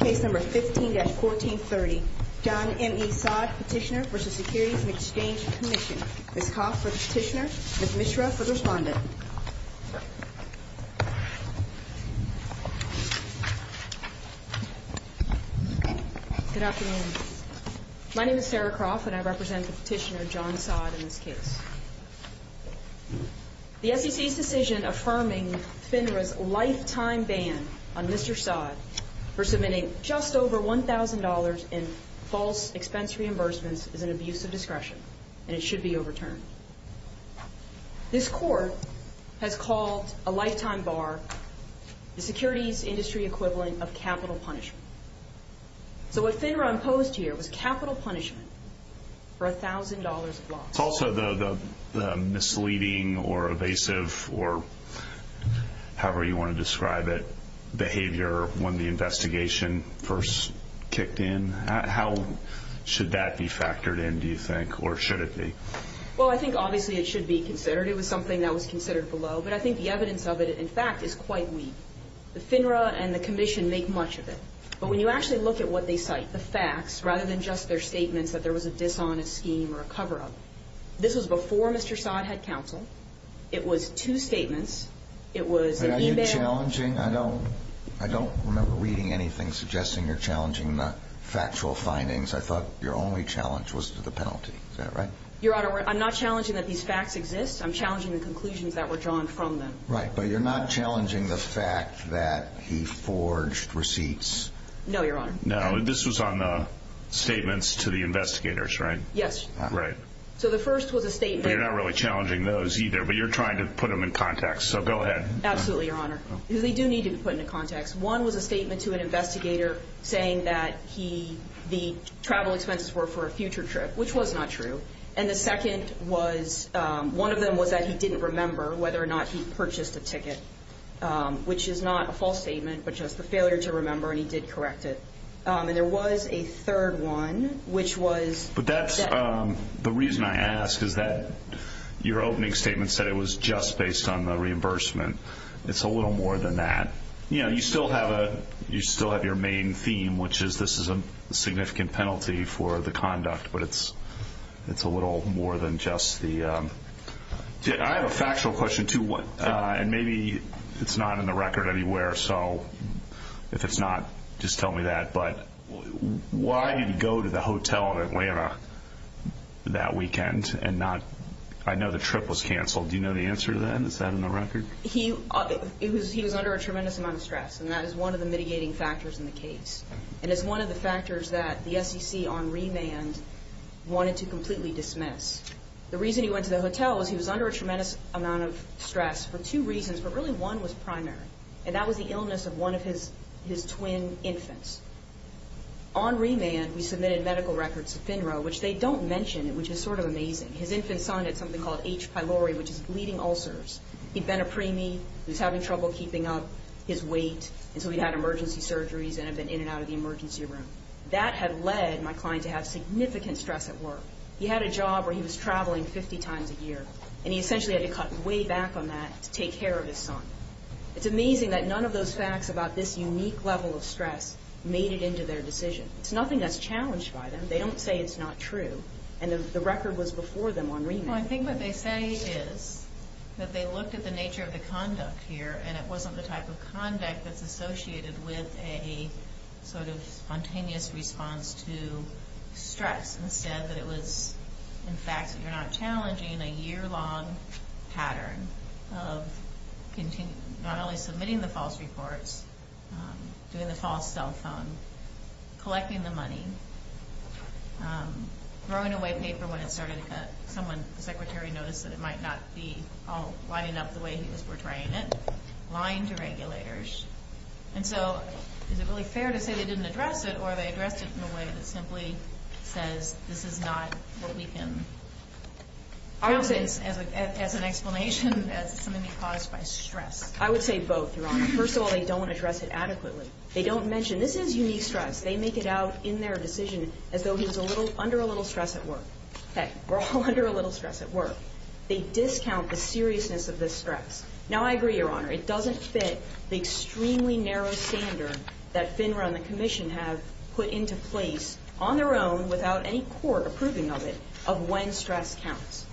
15-1430 John M. E. Saad, Petitioner v. Securities and Exchange Commission Ms. Coff for the Petitioner, Ms. Mishra for the Respondent Good afternoon. My name is Sarah Coff and I represent the Petitioner, John Saad, in this case. The SEC's decision affirming FINRA's lifetime ban on Mr. Saad for submitting just over $1,000 in false expense reimbursements is an abuse of discretion and it should be overturned. This court has called a lifetime bar the securities industry equivalent of capital punishment. So what FINRA imposed here was capital punishment for $1,000 of loss. It's also the misleading or evasive or however you want to describe it behavior when the investigation first kicked in. How should that be factored in, do you think, or should it be? Well, I think obviously it should be considered. It was something that was considered below. But I think the evidence of it, in fact, is quite weak. The FINRA and the Commission make much of it. But when you actually look at what they cite, the facts, rather than just their statements that there was a dishonest scheme or a cover-up, this was before Mr. Saad had counsel. It was two statements. It was an e-mail. Are you challenging? I don't remember reading anything suggesting you're challenging the factual findings. I thought your only challenge was to the penalty. Is that right? Your Honor, I'm not challenging that these facts exist. I'm challenging the conclusions that were drawn from them. Right, but you're not challenging the fact that he forged receipts? No, Your Honor. No, this was on the statements to the investigators, right? Yes. Right. So the first was a statement. You're not really challenging those either, but you're trying to put them in context, so go ahead. Absolutely, Your Honor. They do need to be put into context. One was a statement to an investigator saying that the travel expenses were for a future trip, which was not true. And the second was, one of them was that he didn't remember whether or not he purchased a ticket, which is not a false statement, but just the failure to remember, and he did correct it. And there was a third one, which was... But that's, the reason I ask is that your opening statement said it was just based on the reimbursement. It's a little more than that. You know, you still have your main theme, which is this is a significant penalty for the conduct, but it's a little more than just the... I have a factual question, too, and maybe it's not in the record anywhere, so if it's not, just tell me that. But why did he go to the hotel in Atlanta that weekend and not, I know the trip was canceled. Do you know the answer to that? Is that in the record? He was under a tremendous amount of stress, and that is one of the mitigating factors in the case. And it's one of the factors that the SEC on remand wanted to completely dismiss. The reason he went to the hotel was he was under a tremendous amount of stress for two reasons, but really one was primary, and that was the illness of one of his twin infants. On remand, we submitted medical records to FINRA, which they don't mention, which is sort of amazing. His infant son had something called H. pylori, which is bleeding ulcers. He'd been a preemie, he was having trouble keeping up his weight, and so he'd had emergency surgeries and had been in and out of the emergency room. That had led my client to have significant stress at work. He had a job where he was traveling 50 times a year, and he essentially had to cut way back on that to take care of his son. It's amazing that none of those facts about this unique level of stress made it into their decision. It's nothing that's challenged by them. They don't say it's not true, and the record was before them on remand. Well, I think what they say is that they looked at the nature of the conduct here, and it wasn't the type of conduct that's associated with a sort of spontaneous response to stress. Instead, it was, in fact, you're not challenging a year-long pattern of not only submitting the false reports, doing the false cell phone, collecting the money, throwing away paper when it started to cut, someone, the secretary, noticed that it might not be all lining up the way he was portraying it, lying to regulators. And so is it really fair to say they didn't address it, or they addressed it in a way that simply says this is not what we can count as an explanation as something caused by stress? I would say both, Your Honor. First of all, they don't address it adequately. They don't mention this is unique stress. They make it out in their decision as though he was under a little stress at work. Hey, we're all under a little stress at work. They discount the seriousness of this stress. Now, I agree, Your Honor. It doesn't fit the extremely narrow standard that FINRA and the Commission have put into place on their own without any court approving of it of when stress counts.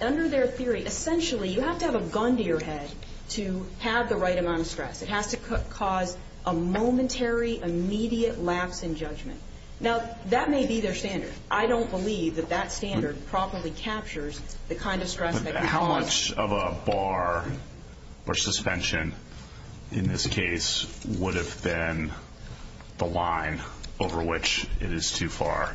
Under their theory, essentially, you have to have a gun to your head to have the right amount of stress. It has to cause a momentary, immediate lapse in judgment. Now, that may be their standard. I don't believe that that standard properly captures the kind of stress that can cause. How much of a bar or suspension in this case would have been the line over which it is too far?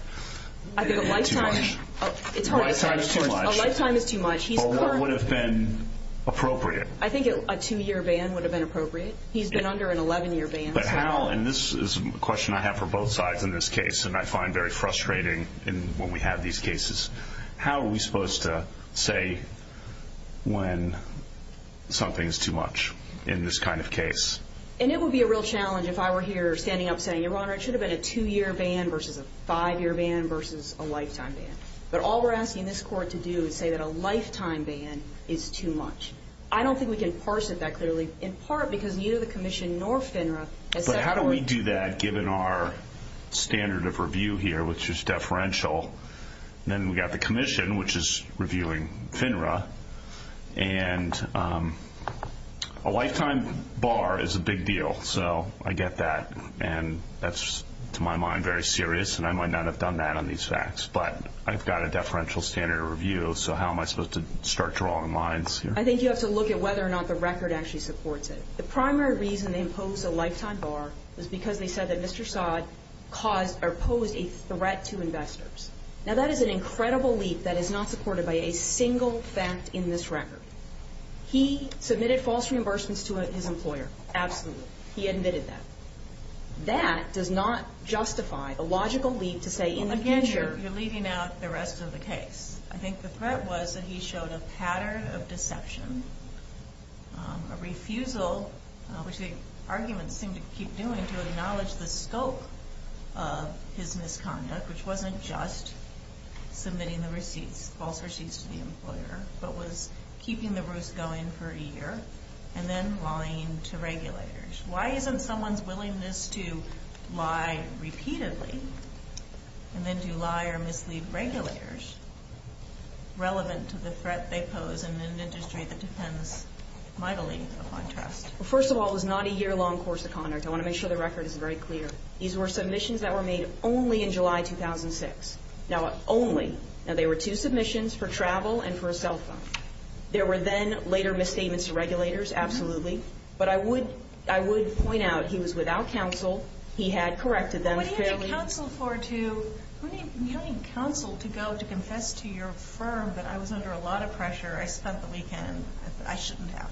I think a lifetime. A lifetime is too much. A lifetime is too much. Or what would have been appropriate? I think a two-year ban would have been appropriate. He's been under an 11-year ban. But how? And this is a question I have for both sides in this case, and I find very frustrating when we have these cases. How are we supposed to say when something is too much in this kind of case? And it would be a real challenge if I were here standing up saying, Your Honor, it should have been a two-year ban versus a five-year ban versus a lifetime ban. But all we're asking this court to do is say that a lifetime ban is too much. I don't think we can parse it that clearly, in part because neither the commission nor FINRA has said that. But how do we do that given our standard of review here, which is deferential? Then we've got the commission, which is reviewing FINRA. And a lifetime bar is a big deal, so I get that. And that's, to my mind, very serious, and I might not have done that on these facts. But I've got a deferential standard of review, so how am I supposed to start drawing lines here? I think you have to look at whether or not the record actually supports it. The primary reason they imposed a lifetime bar was because they said that Mr. Saad posed a threat to investors. Now, that is an incredible leap that is not supported by a single fact in this record. He submitted false reimbursements to his employer, absolutely. He admitted that. That does not justify a logical leap to say in the future. Again, you're leaving out the rest of the case. I think the threat was that he showed a pattern of deception, a refusal, which the arguments seem to keep doing, to acknowledge the scope of his misconduct, which wasn't just submitting the receipts, false receipts to the employer, but was keeping the roost going for a year, and then lying to regulators. Why isn't someone's willingness to lie repeatedly and then to lie or mislead regulators relevant to the threat they pose in an industry that depends mightily upon trust? Well, first of all, it was not a year-long course of conduct. I want to make sure the record is very clear. These were submissions that were made only in July 2006. Now, they were two submissions for travel and for a cell phone. There were then later misstatements to regulators, absolutely, but I would point out he was without counsel. He had corrected them fairly. What do you need counsel for to go to confess to your firm that I was under a lot of pressure, I spent the weekend, I shouldn't have?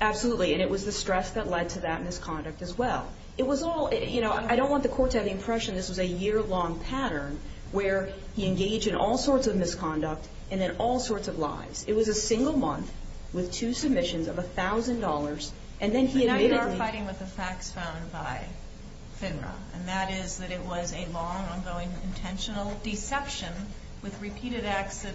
Absolutely, and it was the stress that led to that misconduct as well. I don't want the court to have the impression this was a year-long pattern where he engaged in all sorts of misconduct and in all sorts of lies. It was a single month with two submissions of $1,000. And now you are fighting with the facts found by FINRA, and that is that it was a long-ongoing intentional deception with repeated acts of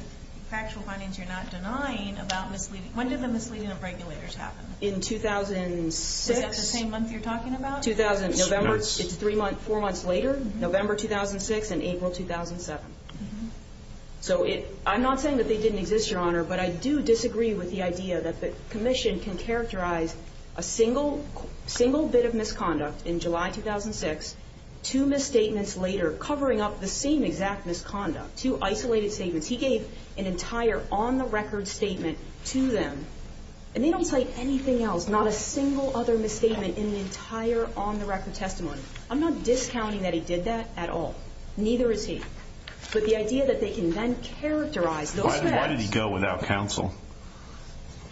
factual findings you're not denying about misleading. When did the misleading of regulators happen? In 2006. Is that the same month you're talking about? It's four months later, November 2006 and April 2007. So I'm not saying that they didn't exist, Your Honor, but I do disagree with the idea that the commission can characterize a single bit of misconduct in July 2006, two misstatements later covering up the same exact misconduct, two isolated statements. He gave an entire on-the-record statement to them, and they don't cite anything else, not a single other misstatement in the entire on-the-record testimony. I'm not discounting that he did that at all. Neither is he. But the idea that they can then characterize those facts. Why did he go without counsel?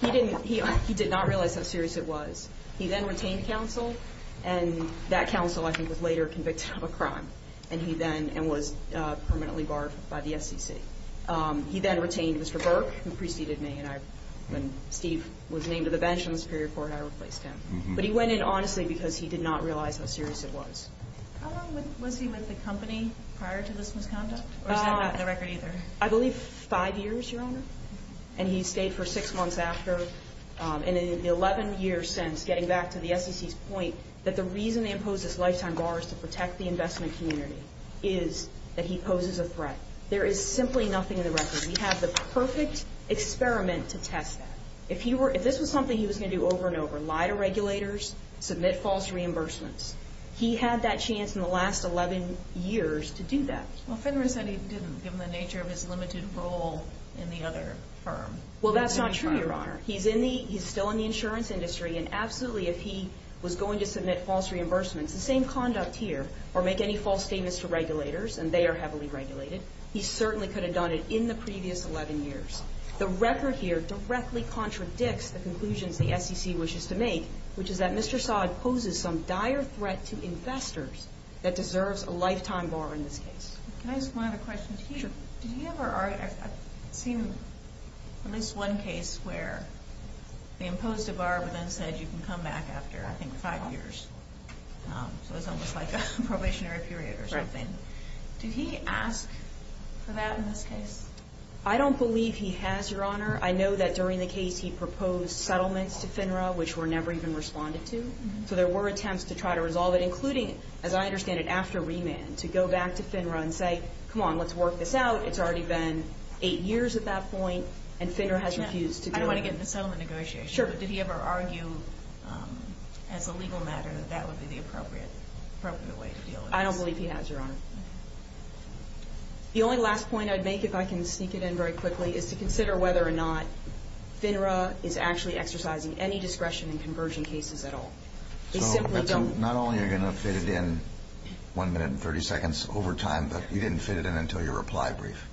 He did not realize how serious it was. He then retained counsel, and that counsel, I think, was later convicted of a crime and was permanently barred by the SEC. He then retained Mr. Burke, who preceded me, and when Steve was named to the bench on the Superior Court, I replaced him. But he went in honestly because he did not realize how serious it was. How long was he with the company prior to this misconduct? Or is that not in the record either? I believe five years, Your Honor. And he stayed for six months after. And in the 11 years since, getting back to the SEC's point, that the reason they imposed this lifetime bar is to protect the investment community is that he poses a threat. There is simply nothing in the record. We have the perfect experiment to test that. If this was something he was going to do over and over, lie to regulators, submit false reimbursements, he had that chance in the last 11 years to do that. Well, Fenron said he didn't, given the nature of his limited role in the other firm. Well, that's not true, Your Honor. He's still in the insurance industry, and absolutely if he was going to submit false reimbursements, the same conduct here, or make any false statements to regulators, and they are heavily regulated, he certainly could have done it in the previous 11 years. The record here directly contradicts the conclusions the SEC wishes to make, which is that Mr. Saad poses some dire threat to investors that deserves a lifetime bar in this case. Can I ask one other question? Sure. Did you ever see at least one case where they imposed a bar but then said you can come back after, I think, five years? So it's almost like a probationary period or something. Right. Did he ask for that in this case? I don't believe he has, Your Honor. I know that during the case he proposed settlements to FINRA, which were never even responded to. So there were attempts to try to resolve it, including, as I understand it, after remand, to go back to FINRA and say, come on, let's work this out. It's already been eight years at that point, and FINRA has refused to do it. I don't want to get into settlement negotiations. Sure. But did he ever argue, as a legal matter, that that would be the appropriate way to deal with this? I don't believe he has, Your Honor. The only last point I'd make, if I can sneak it in very quickly, is to consider whether or not FINRA is actually exercising any discretion in conversion cases at all. So not only are you going to fit it in one minute and 30 seconds over time, but you didn't fit it in until your reply brief.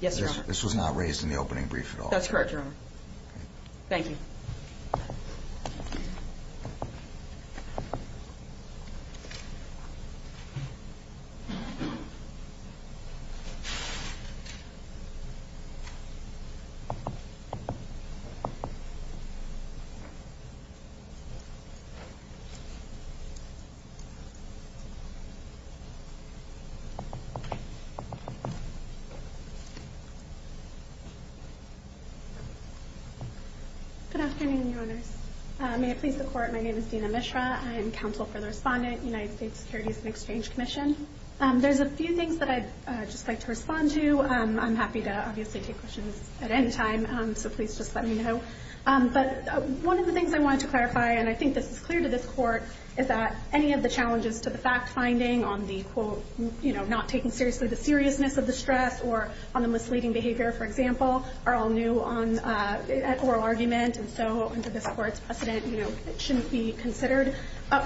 Yes, Your Honor. This was not raised in the opening brief at all. That's correct, Your Honor. Thank you. Good afternoon, Your Honors. May it please the Court, my name is Dina Mishra. I am counsel for the respondent, United States Securities and Exchange Commission. There's a few things that I'd just like to respond to. I'm happy to obviously take questions at any time, so please just let me know. But one of the things I wanted to clarify, and I think this is clear to this Court, is that any of the challenges to the fact-finding on the, quote, you know, not taking seriously the seriousness of the stress or on the misleading behavior, for example, are all new at oral argument, and so under this Court's precedent, you know, it shouldn't be considered.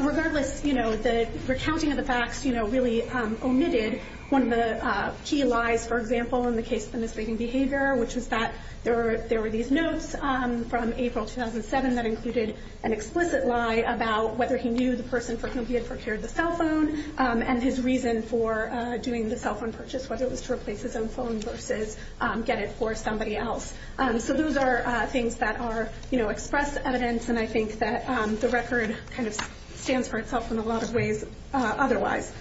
Regardless, you know, the recounting of the facts, you know, really omitted one of the key lies, for example, in the case of the misleading behavior, which was that there were these notes from April 2007 that included an explicit lie about whether he knew the person for whom he had procured the cell phone and his reason for doing the cell phone purchase, whether it was to replace his own phone versus get it for somebody else. So those are things that are, you know, express evidence, and I think that the record kind of stands for itself in a lot of ways otherwise.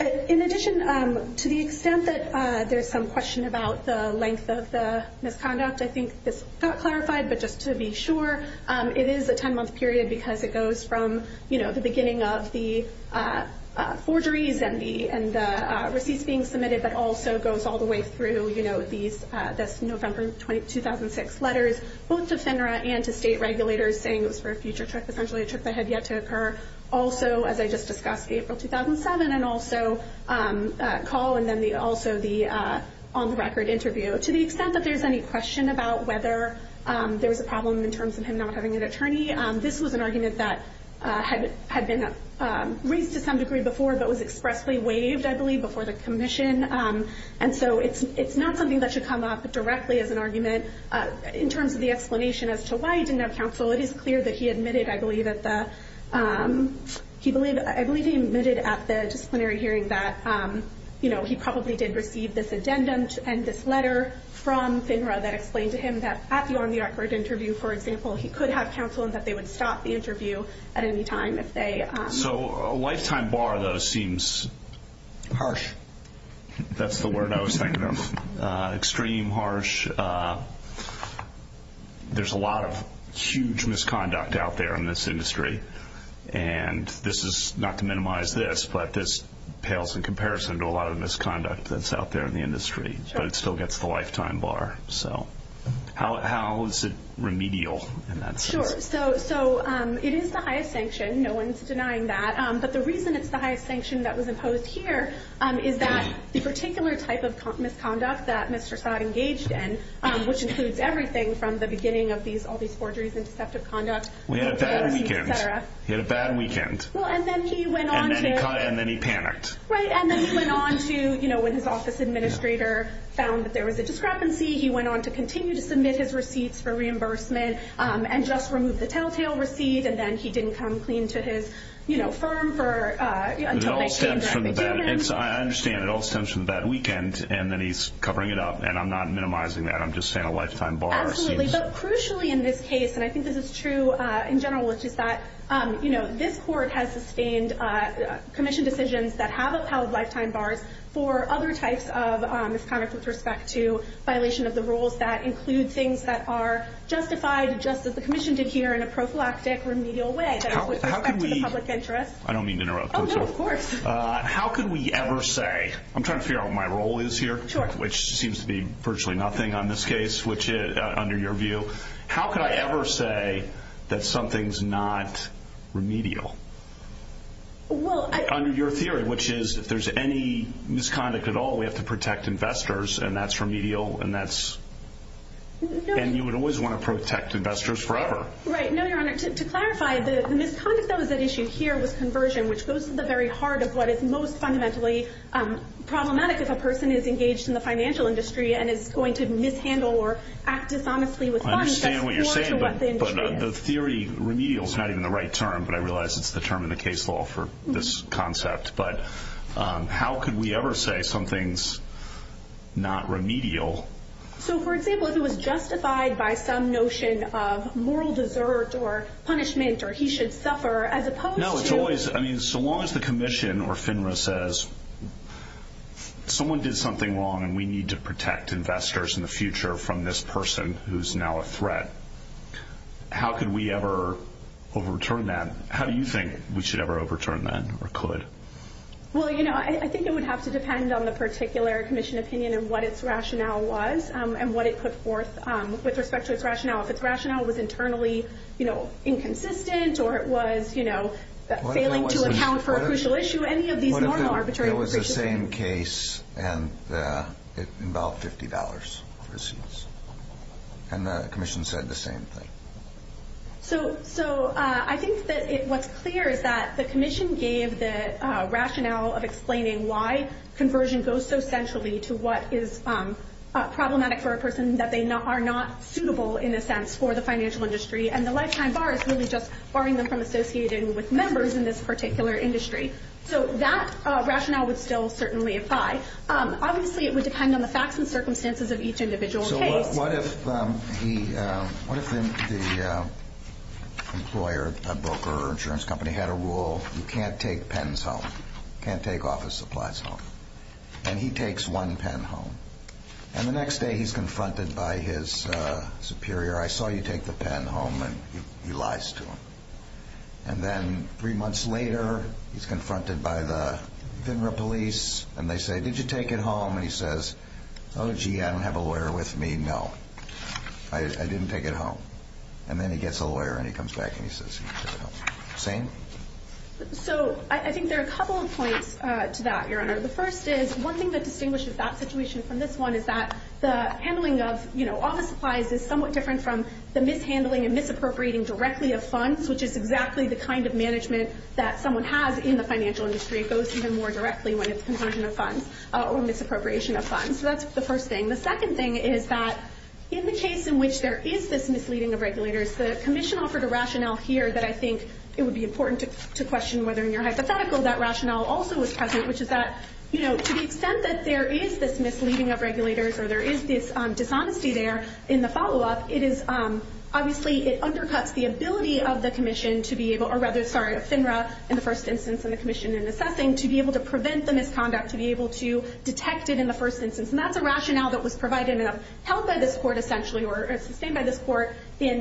In addition, to the extent that there's some question about the length of the misconduct, I think this got clarified, but just to be sure, it is a 10-month period because it goes from, you know, the beginning of the forgeries and the receipts being submitted, but also goes all the way through, you know, this November 2006 letters, both to FINRA and to state regulators, saying it was for a future trip, essentially a trip that had yet to occur. Also, as I just discussed, April 2007, and also call, and then also the on-the-record interview. To the extent that there's any question about whether there was a problem in terms of him not having an attorney, this was an argument that had been raised to some degree before but was expressly waived, I believe, before the commission. And so it's not something that should come up directly as an argument. In terms of the explanation as to why he didn't have counsel, it is clear that he admitted, I believe, at the disciplinary hearing that he probably did receive this addendum and this letter from FINRA that explained to him that at the on-the-record interview, for example, he could have counsel and that they would stop the interview at any time if they— So a lifetime bar, though, seems— Harsh. That's the word I was thinking of. Extreme, harsh. There's a lot of huge misconduct out there in this industry. And this is—not to minimize this, but this pales in comparison to a lot of misconduct that's out there in the industry, but it still gets the lifetime bar. So how is it remedial in that sense? Sure. So it is the highest sanction. No one's denying that. But the reason it's the highest sanction that was imposed here is that the particular type of misconduct that Mr. Saad engaged in, which includes everything from the beginning of all these forgeries and deceptive conduct— We had a bad weekend. He had a bad weekend. And then he went on to— And then he panicked. Right. And then he went on to— when his office administrator found that there was a discrepancy, he went on to continue to submit his receipts for reimbursement and just remove the telltale receipt, and then he didn't come clean to his firm for— It all stems from the bad—I understand. It all stems from the bad weekend, and then he's covering it up. And I'm not minimizing that. I'm just saying a lifetime bar seems— Absolutely. But crucially in this case, and I think this is true in general, which is that this court has sustained commission decisions that have upheld lifetime bars for other types of misconduct with respect to violation of the rules that include things that are justified just as the commission did here in a prophylactic, remedial way with respect to the public interest. I don't mean to interrupt. Oh, no, of course. How could we ever say—I'm trying to figure out what my role is here, which seems to be virtually nothing on this case, under your view. How could I ever say that something's not remedial? Well, I— Under your theory, which is if there's any misconduct at all, we have to protect investors, and that's remedial, and that's— And you would always want to protect investors forever. Right. No, Your Honor. To clarify, the misconduct that was at issue here was conversion, which goes to the very heart of what is most fundamentally problematic if a person is engaged in the financial industry and is going to mishandle or act dishonestly with money that's foreign to what the industry is. I understand what you're saying, but the theory remedial is not even the right term, but I realize it's the term in the case law for this concept. But how could we ever say something's not remedial? So, for example, if it was justified by some notion of moral desert or punishment or he should suffer, as opposed to— No, it's always—I mean, so long as the commission or FINRA says, someone did something wrong and we need to protect investors in the future from this person who's now a threat, how could we ever overturn that? How do you think we should ever overturn that or could? Well, I think it would have to depend on the particular commission opinion and what its rationale was and what it put forth with respect to its rationale. If its rationale was internally inconsistent or it was failing to account for a crucial issue, any of these normal arbitrary— What if it was the same case and it involved $50 for receipts and the commission said the same thing? So I think that what's clear is that the commission gave the rationale of explaining why conversion goes so centrally to what is problematic for a person that they are not suitable, in a sense, for the financial industry and the lifetime bar is really just barring them from associating with members in this particular industry. So that rationale would still certainly apply. Obviously, it would depend on the facts and circumstances of each individual case. What if the employer, broker, or insurance company had a rule, you can't take pens home, can't take office supplies home, and he takes one pen home, and the next day he's confronted by his superior, I saw you take the pen home, and he lies to him. And then three months later, he's confronted by the Venera police, and they say, did you take it home? And he says, oh, gee, I don't have a lawyer with me. No, I didn't take it home. And then he gets a lawyer and he comes back and he says he took it home. Same? So I think there are a couple of points to that, Your Honor. The first is one thing that distinguishes that situation from this one is that the handling of office supplies is somewhat different from the mishandling and misappropriating directly of funds, which is exactly the kind of management that someone has in the financial industry. It goes even more directly when it's consumption of funds or misappropriation of funds. So that's the first thing. The second thing is that in the case in which there is this misleading of regulators, the commission offered a rationale here that I think it would be important to question whether in your hypothetical that rationale also was present, which is that to the extent that there is this misleading of regulators or there is this dishonesty there in the follow-up, it is obviously it undercuts the ability of the commission to be able to, or rather, sorry, of FINRA in the first instance and the commission in assessing to be able to prevent the misconduct, to be able to detect it in the first instance. And that's a rationale that was provided and held by this court essentially or sustained by this court in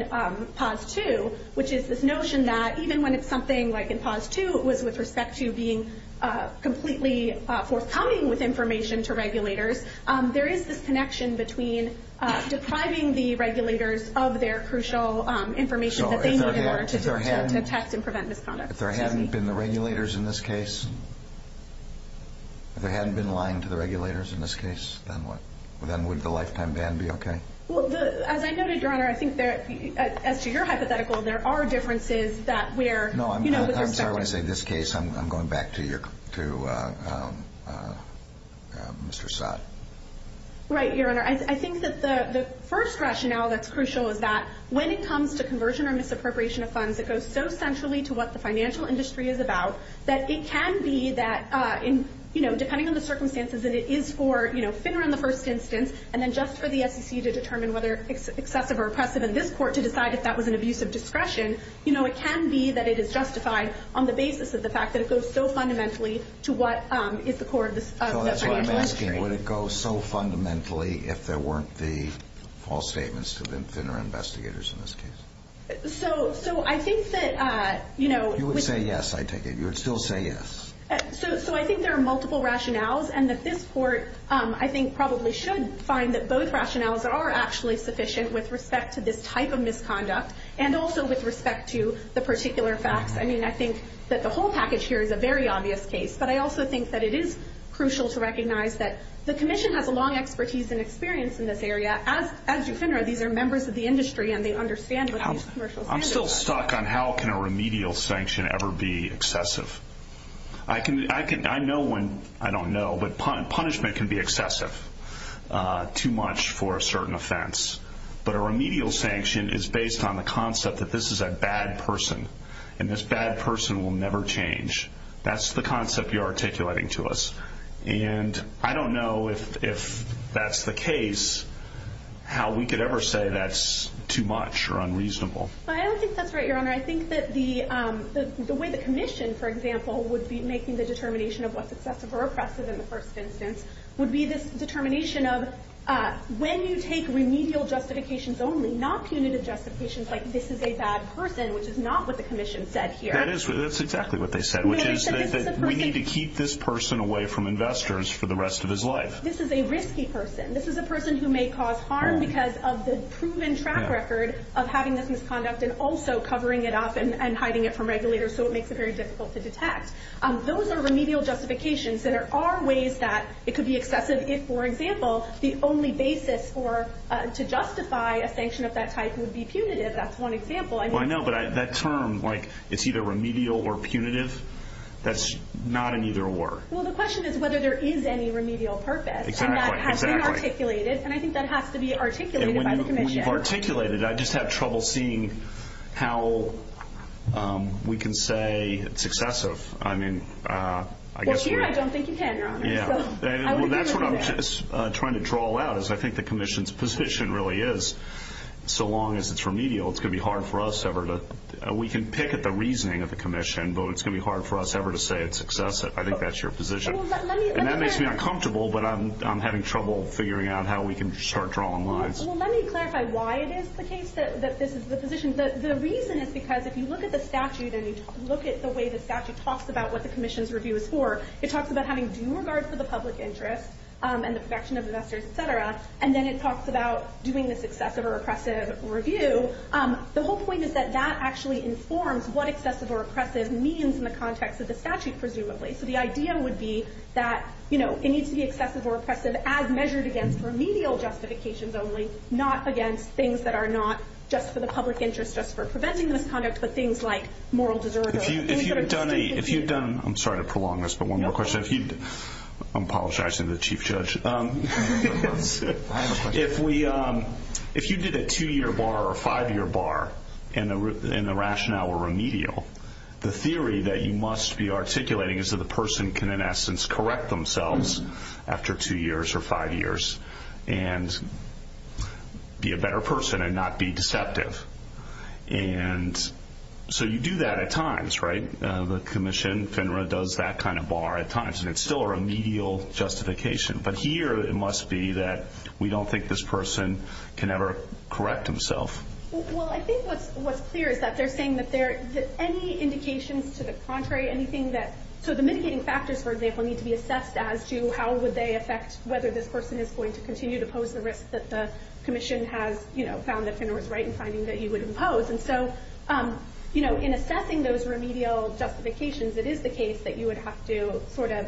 P.A.U.S. 2, which is this notion that even when it's something like in P.A.U.S. 2, it was with respect to being completely forthcoming with information to regulators, there is this connection between depriving the regulators of their crucial information that they need in order to detect and prevent misconduct. So if there hadn't been the regulators in this case, if there hadn't been lying to the regulators in this case, then what? Then would the lifetime ban be okay? Well, as I noted, Your Honor, I think as to your hypothetical, there are differences that we're, you know, with respect to. No, I'm sorry when I say this case. I'm going back to Mr. Saad. Right, Your Honor. I think that the first rationale that's crucial is that when it comes to conversion or misappropriation of funds, it goes so centrally to what the financial industry is about that it can be that, you know, depending on the circumstances, that it is for FINRA in the first instance and then just for the SEC to determine whether it's excessive or oppressive in this court to decide if that was an abuse of discretion. You know, it can be that it is justified on the basis of the fact that it goes so fundamentally to what is the core of the financial industry. I'm just asking, would it go so fundamentally if there weren't the false statements to the FINRA investigators in this case? So I think that, you know— You would say yes, I take it. You would still say yes. So I think there are multiple rationales and that this court, I think, probably should find that both rationales are actually sufficient with respect to this type of misconduct and also with respect to the particular facts. I mean, I think that the whole package here is a very obvious case, but I also think that it is crucial to recognize that the commission has a long expertise and experience in this area. As you FINRA, these are members of the industry and they understand what these commercial standards are. I'm still stuck on how can a remedial sanction ever be excessive. I know when—I don't know, but punishment can be excessive, too much for a certain offense. But a remedial sanction is based on the concept that this is a bad person and this bad person will never change. That's the concept you're articulating to us. And I don't know if that's the case, how we could ever say that's too much or unreasonable. I don't think that's right, Your Honor. I think that the way the commission, for example, would be making the determination of what's excessive or oppressive in the first instance would be this determination of when you take remedial justifications only, not punitive justifications, like this is a bad person, which is not what the commission said here. That's exactly what they said, which is that we need to keep this person away from investors for the rest of his life. This is a risky person. This is a person who may cause harm because of the proven track record of having this misconduct and also covering it up and hiding it from regulators, so it makes it very difficult to detect. Those are remedial justifications. There are ways that it could be excessive if, for example, the only basis to justify a sanction of that type would be punitive. That's one example. I know, but that term, like it's either remedial or punitive, that's not an either-or. Well, the question is whether there is any remedial purpose, and that has been articulated, and I think that has to be articulated by the commission. We've articulated it. I just have trouble seeing how we can say it's excessive. Well, here I don't think you can, Your Honor. That's what I'm trying to draw out is I think the commission's position really is so long as it's remedial, it's going to be hard for us ever to we can pick at the reasoning of the commission, but it's going to be hard for us ever to say it's excessive. I think that's your position. And that makes me uncomfortable, but I'm having trouble figuring out how we can start drawing lines. Well, let me clarify why it is the case that this is the position. The reason is because if you look at the statute and you look at the way the statute talks about what the commission's review is for, it talks about having due regard for the public interest and the protection of investors, et cetera, and then it talks about doing this excessive or oppressive review. The whole point is that that actually informs what excessive or oppressive means in the context of the statute, presumably. So the idea would be that it needs to be excessive or oppressive as measured against remedial justifications only, not against things that are not just for the public interest, just for preventing misconduct, but things like moral desertion. If you've done a—I'm sorry to prolong this, but one more question. I'm apologizing to the Chief Judge. I have a question. If you did a 2-year bar or a 5-year bar and the rationale were remedial, the theory that you must be articulating is that the person can, in essence, correct themselves after 2 years or 5 years and be a better person and not be deceptive. And so you do that at times, right? The commission, FINRA, does that kind of bar at times, and it's still a remedial justification. But here it must be that we don't think this person can ever correct himself. Well, I think what's clear is that they're saying that any indications to the contrary, anything that—so the mitigating factors, for example, need to be assessed as to how would they affect whether this person is going to continue to pose the risk that the commission has found that FINRA is right in finding that you would impose. And so in assessing those remedial justifications, it is the case that you would have to sort of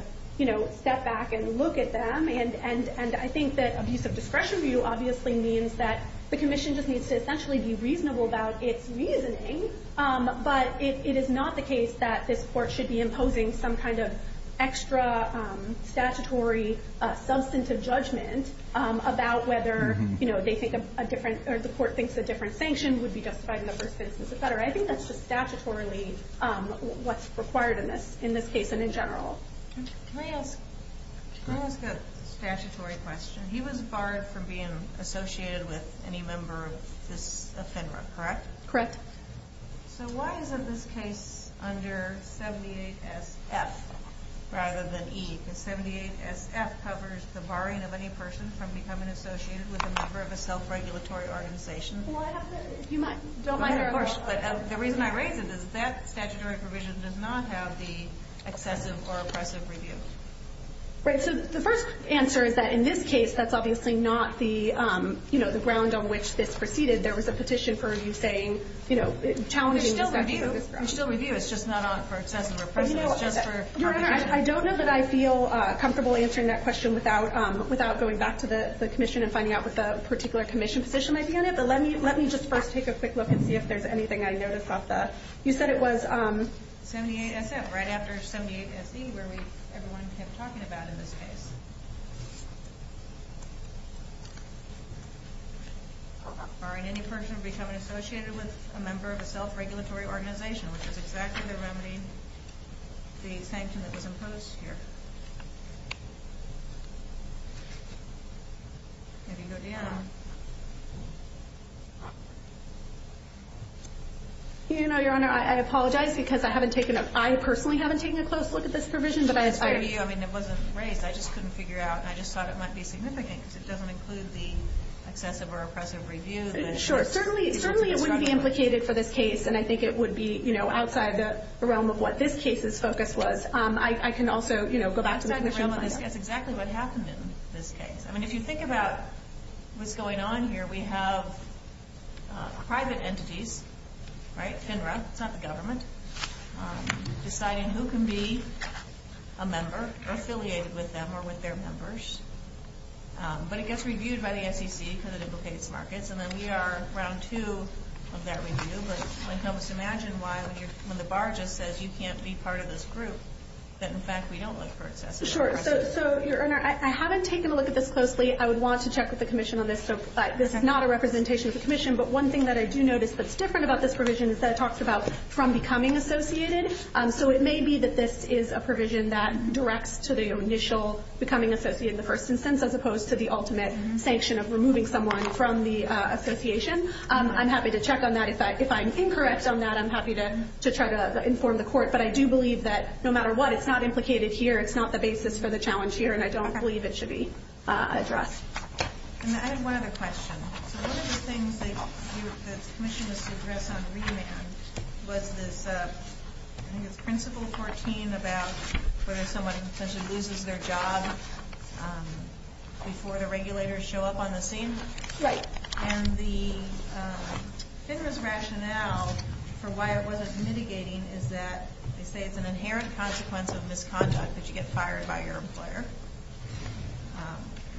step back and look at them. And I think that abuse of discretion view obviously means that the commission just needs to essentially be reasonable about its reasoning. But it is not the case that this court should be imposing some kind of extra statutory substantive judgment about whether they think a different— or the court thinks a different sanction would be justified in the first instance. I think that's just statutorily what's required in this case and in general. Can I ask a statutory question? He was barred from being associated with any member of FINRA, correct? Correct. So why isn't this case under 78SF rather than E? Because 78SF covers the barring of any person from becoming associated with a member of a self-regulatory organization. Don't mind her, of course. But the reason I raise it is that statutory provision does not have the excessive or oppressive review. Right. So the first answer is that in this case, that's obviously not the ground on which this proceeded. There was a petition for review saying— We still review. We still review. It's just not for excessive or oppressive. Your Honor, I don't know that I feel comfortable answering that question without going back to the commission and finding out what the particular commission position might be on it, but let me just first take a quick look and see if there's anything I noticed off the— You said it was 78SF right after 78SE where everyone kept talking about in this case. Barring any person from becoming associated with a member of a self-regulatory organization, which is exactly the remedy, the sanction that was imposed here. Maybe go, Deanna. Your Honor, I apologize because I haven't taken a—I personally haven't taken a close look at this provision, but I— It's for you. I mean, it wasn't raised. I just couldn't figure out. I just thought it might be significant because it doesn't include the excessive or oppressive review. Sure. Certainly it wouldn't be implicated for this case, and I think it would be outside the realm of what this case's focus was. I can also go back to the commission later. That's exactly what happened in this case. I mean, if you think about what's going on here, we have private entities, right, FINRA, it's not the government, deciding who can be a member or affiliated with them or with their members, but it gets reviewed by the SEC because it implicates markets, and then we are round two of that review. But help us imagine why, when the bar just says you can't be part of this group, that in fact we don't look for excessive or oppressive review. Sure. So, Your Honor, I haven't taken a look at this closely. I would want to check with the commission on this. This is not a representation of the commission, but one thing that I do notice that's different about this provision is that it talks about from becoming associated. So it may be that this is a provision that directs to the initial becoming associated in the first instance as opposed to the ultimate sanction of removing someone from the association. I'm happy to check on that. If I'm incorrect on that, I'm happy to try to inform the court. But I do believe that no matter what, it's not implicated here, it's not the basis for the challenge here, and I don't believe it should be addressed. And I have one other question. So one of the things that the commission was to address on remand was this, I think it's principle 14 about whether someone potentially loses their job before the regulators show up on the scene. Right. And the FINRA's rationale for why it wasn't mitigating is that they say it's an inherent consequence of misconduct that you get fired by your employer,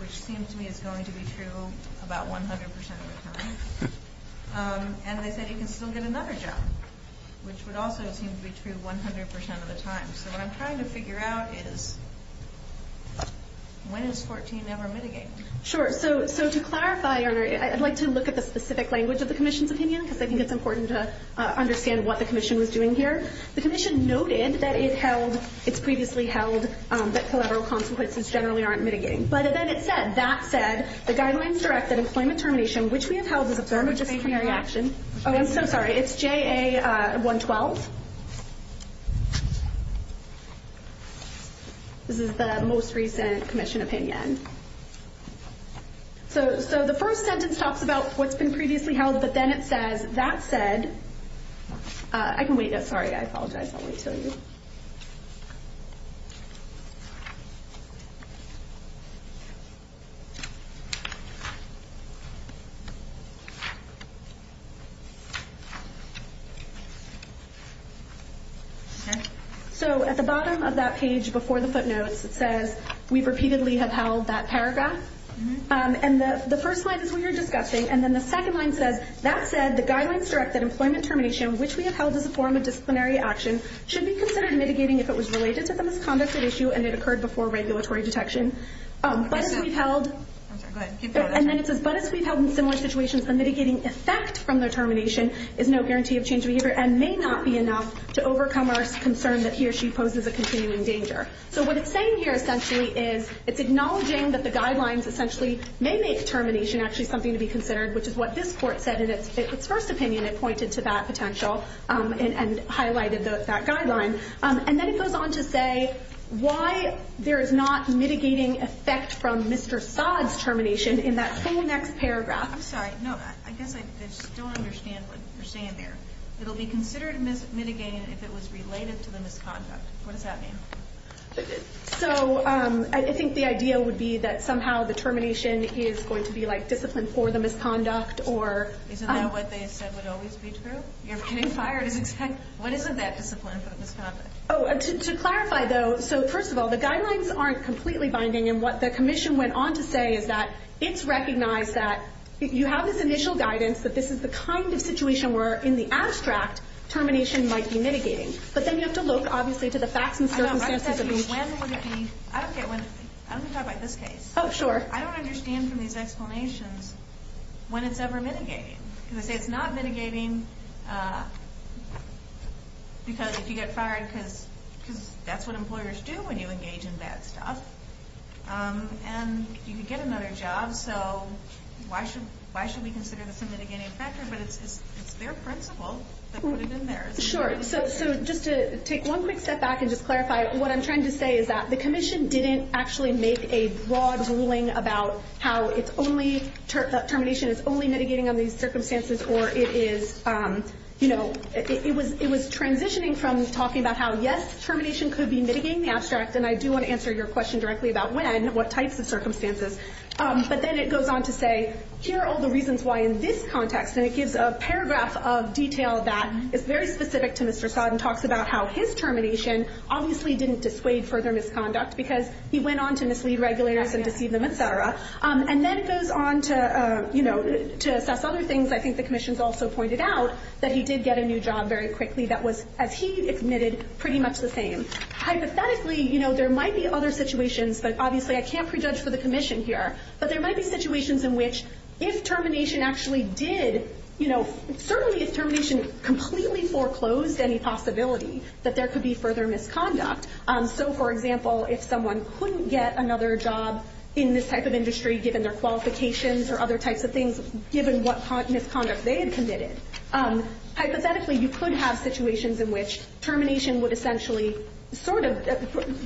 which seems to me is going to be true about 100% of the time. And they said you can still get another job, which would also seem to be true 100% of the time. So what I'm trying to figure out is when is 14 ever mitigated? Sure. So to clarify, I'd like to look at the specific language of the commission's opinion because I think it's important to understand what the commission was doing here. The commission noted that it held, it's previously held, that collateral consequences generally aren't mitigating. But then it said, that said, the guidelines direct that employment termination, which we have held as a firm decisionary action. Oh, I'm so sorry. It's JA 112. It's previously held. This is the most recent commission opinion. So the first sentence talks about what's been previously held. But then it says, that said. I can wait. Sorry, I apologize. I don't want to tell you. So at the bottom of that page before the footnotes, it says, we've repeatedly have held that paragraph. And the first line is what you're discussing. And then the second line says, that said, the guidelines direct that employment termination, which we have held as a form of disciplinary action, should be considered mitigating if it was related to the misconducted issue and it occurred before regulatory detection. But as we've held. I'm sorry, go ahead. Keep going. And then it says, but as we've held in similar situations, the mitigating effect from the termination is no guarantee of change behavior and may not be enough to overcome our concern that he or she poses a continuing danger. So what it's saying here essentially is it's acknowledging that the guidelines essentially may make termination actually something to be considered, which is what this court said in its first opinion. It pointed to that potential and highlighted that guideline. And then it goes on to say why there is not mitigating effect from Mr. Saad's termination in that whole next paragraph. I'm sorry. No, I guess I still understand what you're saying there. It'll be considered mitigating if it was related to the misconduct. What does that mean? So I think the idea would be that somehow the termination is going to be like discipline for the misconduct or. Isn't that what they said would always be true? You're getting fired. What is it that discipline for the misconduct? To clarify, though, so first of all, the guidelines aren't completely binding, and what the commission went on to say is that it's recognized that you have this initial guidance that this is the kind of situation where in the abstract termination might be mitigating. But then you have to look, obviously, to the facts and circumstances. I don't get when. I'm going to talk about this case. Oh, sure. I don't understand from these explanations when it's ever mitigating. Because I say it's not mitigating because if you get fired because that's what employers do when you engage in bad stuff and you could get another job, so why should we consider this a mitigating factor? But it's their principle that put it in there. Sure. So just to take one quick step back and just clarify, what I'm trying to say is that the commission didn't actually make a broad ruling about how it's only termination is only mitigating on these circumstances or it is, you know, it was transitioning from talking about how, yes, termination could be mitigating the abstract, and I do want to answer your question directly about when, what types of circumstances. But then it goes on to say, here are all the reasons why in this context, and it gives a paragraph of detail that is very specific to Mr. Sodden, and talks about how his termination obviously didn't dissuade further misconduct because he went on to mislead regulators and deceive them, et cetera. And then it goes on to, you know, to assess other things. I think the commission has also pointed out that he did get a new job very quickly that was, as he admitted, pretty much the same. Hypothetically, you know, there might be other situations, but obviously I can't prejudge for the commission here, but there might be situations in which if termination actually did, you know, certainly if termination completely foreclosed any possibility that there could be further misconduct. So, for example, if someone couldn't get another job in this type of industry given their qualifications or other types of things given what misconduct they had committed, hypothetically you could have situations in which termination would essentially sort of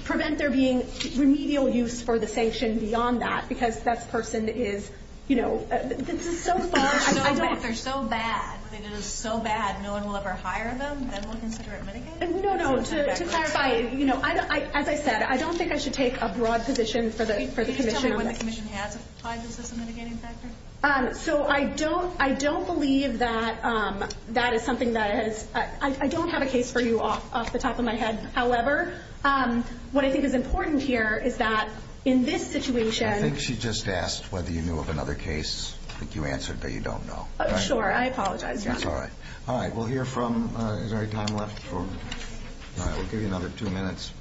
prevent there being remedial use for the sanction beyond that because that person is, you know, this is so far. I don't think they're so bad. If they did it so bad, no one will ever hire them? Then we'll consider it mitigating? No, no. To clarify, you know, as I said, I don't think I should take a broad position for the commission on this. Can you tell me when the commission has applied this as a mitigating factor? So I don't believe that that is something that has – I don't have a case for you off the top of my head. However, what I think is important here is that in this situation – I think she just asked whether you knew of another case. I think you answered that you don't know. Sure. I apologize, Your Honor. That's all right. All right. We'll hear from – is there any time left? We'll give you another two minutes.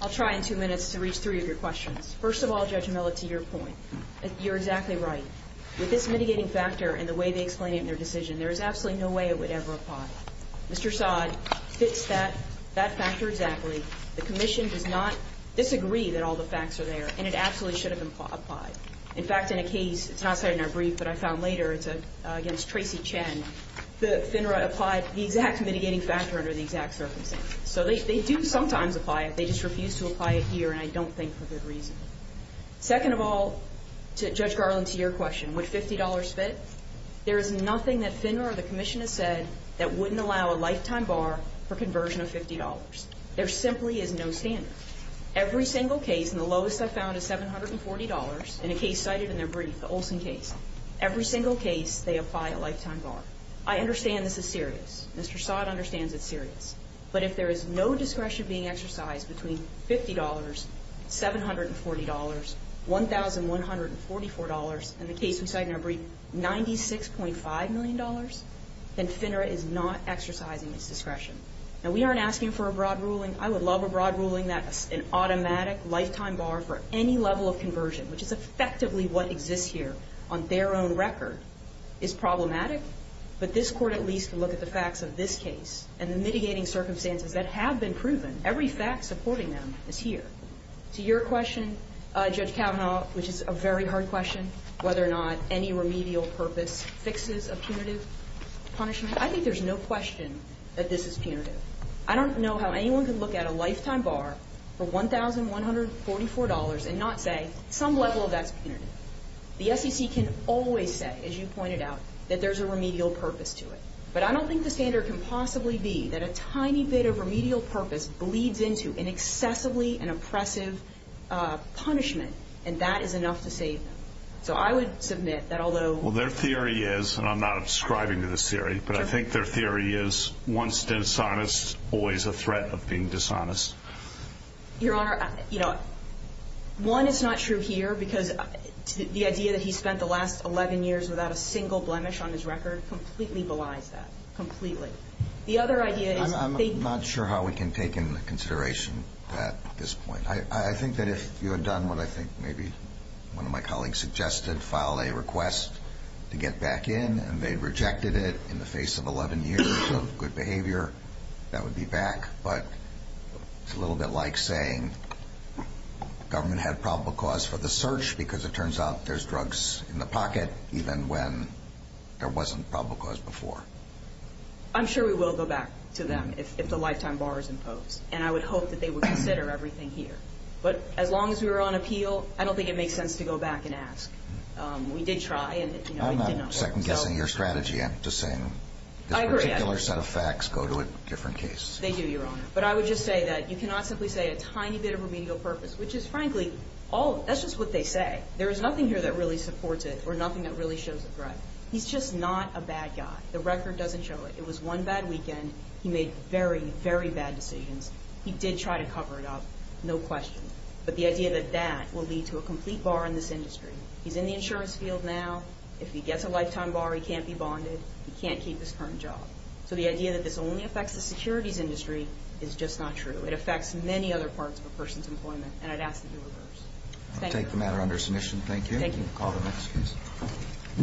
I'll try in two minutes to reach three of your questions. First of all, Judge Milla, to your point, you're exactly right. With this mitigating factor and the way they explain it in their decision, there is absolutely no way it would ever apply. Mr. Sodd fits that factor exactly. The commission does not disagree that all the facts are there, and it absolutely should have been applied. In fact, in a case – it's not cited in our brief, but I found later – it's against Tracy Chen. FINRA applied the exact mitigating factor under the exact circumstances. So they do sometimes apply it. They just refuse to apply it here, and I don't think for good reason. Second of all, Judge Garland, to your question, would $50 fit? There is nothing that FINRA or the commission has said that wouldn't allow a lifetime bar for conversion of $50. There simply is no standard. Every single case, and the lowest I found is $740, in a case cited in their brief, the Olson case, every single case they apply a lifetime bar. I understand this is serious. Mr. Sodd understands it's serious. But if there is no discretion being exercised between $50, $740, $1,144, and the case we cite in our brief, $96.5 million, then FINRA is not exercising its discretion. Now, we aren't asking for a broad ruling. I would love a broad ruling that an automatic lifetime bar for any level of conversion, which is effectively what exists here, on their own record, is problematic. But this Court at least can look at the facts of this case and the mitigating circumstances that have been proven. Every fact supporting them is here. To your question, Judge Kavanaugh, which is a very hard question, whether or not any remedial purpose fixes a punitive punishment, I think there's no question that this is punitive. I don't know how anyone can look at a lifetime bar for $1,144 and not say some level of that's punitive. The SEC can always say, as you pointed out, that there's a remedial purpose to it. But I don't think the standard can possibly be that a tiny bit of remedial purpose bleeds into an excessively and oppressive punishment, and that is enough to save them. So I would submit that although... Well, their theory is, and I'm not ascribing to this theory, but I think their theory is once dishonest, always a threat of being dishonest. Your Honor, you know, one, it's not true here because the idea that he spent the last 11 years without a single blemish on his record completely belies that. Completely. The other idea is... I'm not sure how we can take into consideration that at this point. I think that if you had done what I think maybe one of my colleagues suggested, filed a request to get back in, and they rejected it in the face of 11 years of good behavior, that would be back. But it's a little bit like saying the government had probable cause for the search because it turns out there's drugs in the pocket even when there wasn't probable cause before. I'm sure we will go back to them if the lifetime bar is imposed. And I would hope that they would consider everything here. But as long as we were on appeal, I don't think it makes sense to go back and ask. We did try and, you know, we did not. I'm not second-guessing your strategy. I'm just saying this particular set of facts go to a different case. They do, Your Honor. But I would just say that you cannot simply say a tiny bit of remedial purpose, which is frankly, that's just what they say. There is nothing here that really supports it or nothing that really shows a threat. He's just not a bad guy. The record doesn't show it. It was one bad weekend. He made very, very bad decisions. He did try to cover it up, no question. But the idea that that will lead to a complete bar in this industry. He's in the insurance field now. If he gets a lifetime bar, he can't be bonded. He can't keep his current job. So the idea that this only affects the securities industry is just not true. It affects many other parts of a person's employment. And I'd ask that you reverse. Thank you. I'll take the matter under submission. Thank you. Thank you. Call the next case.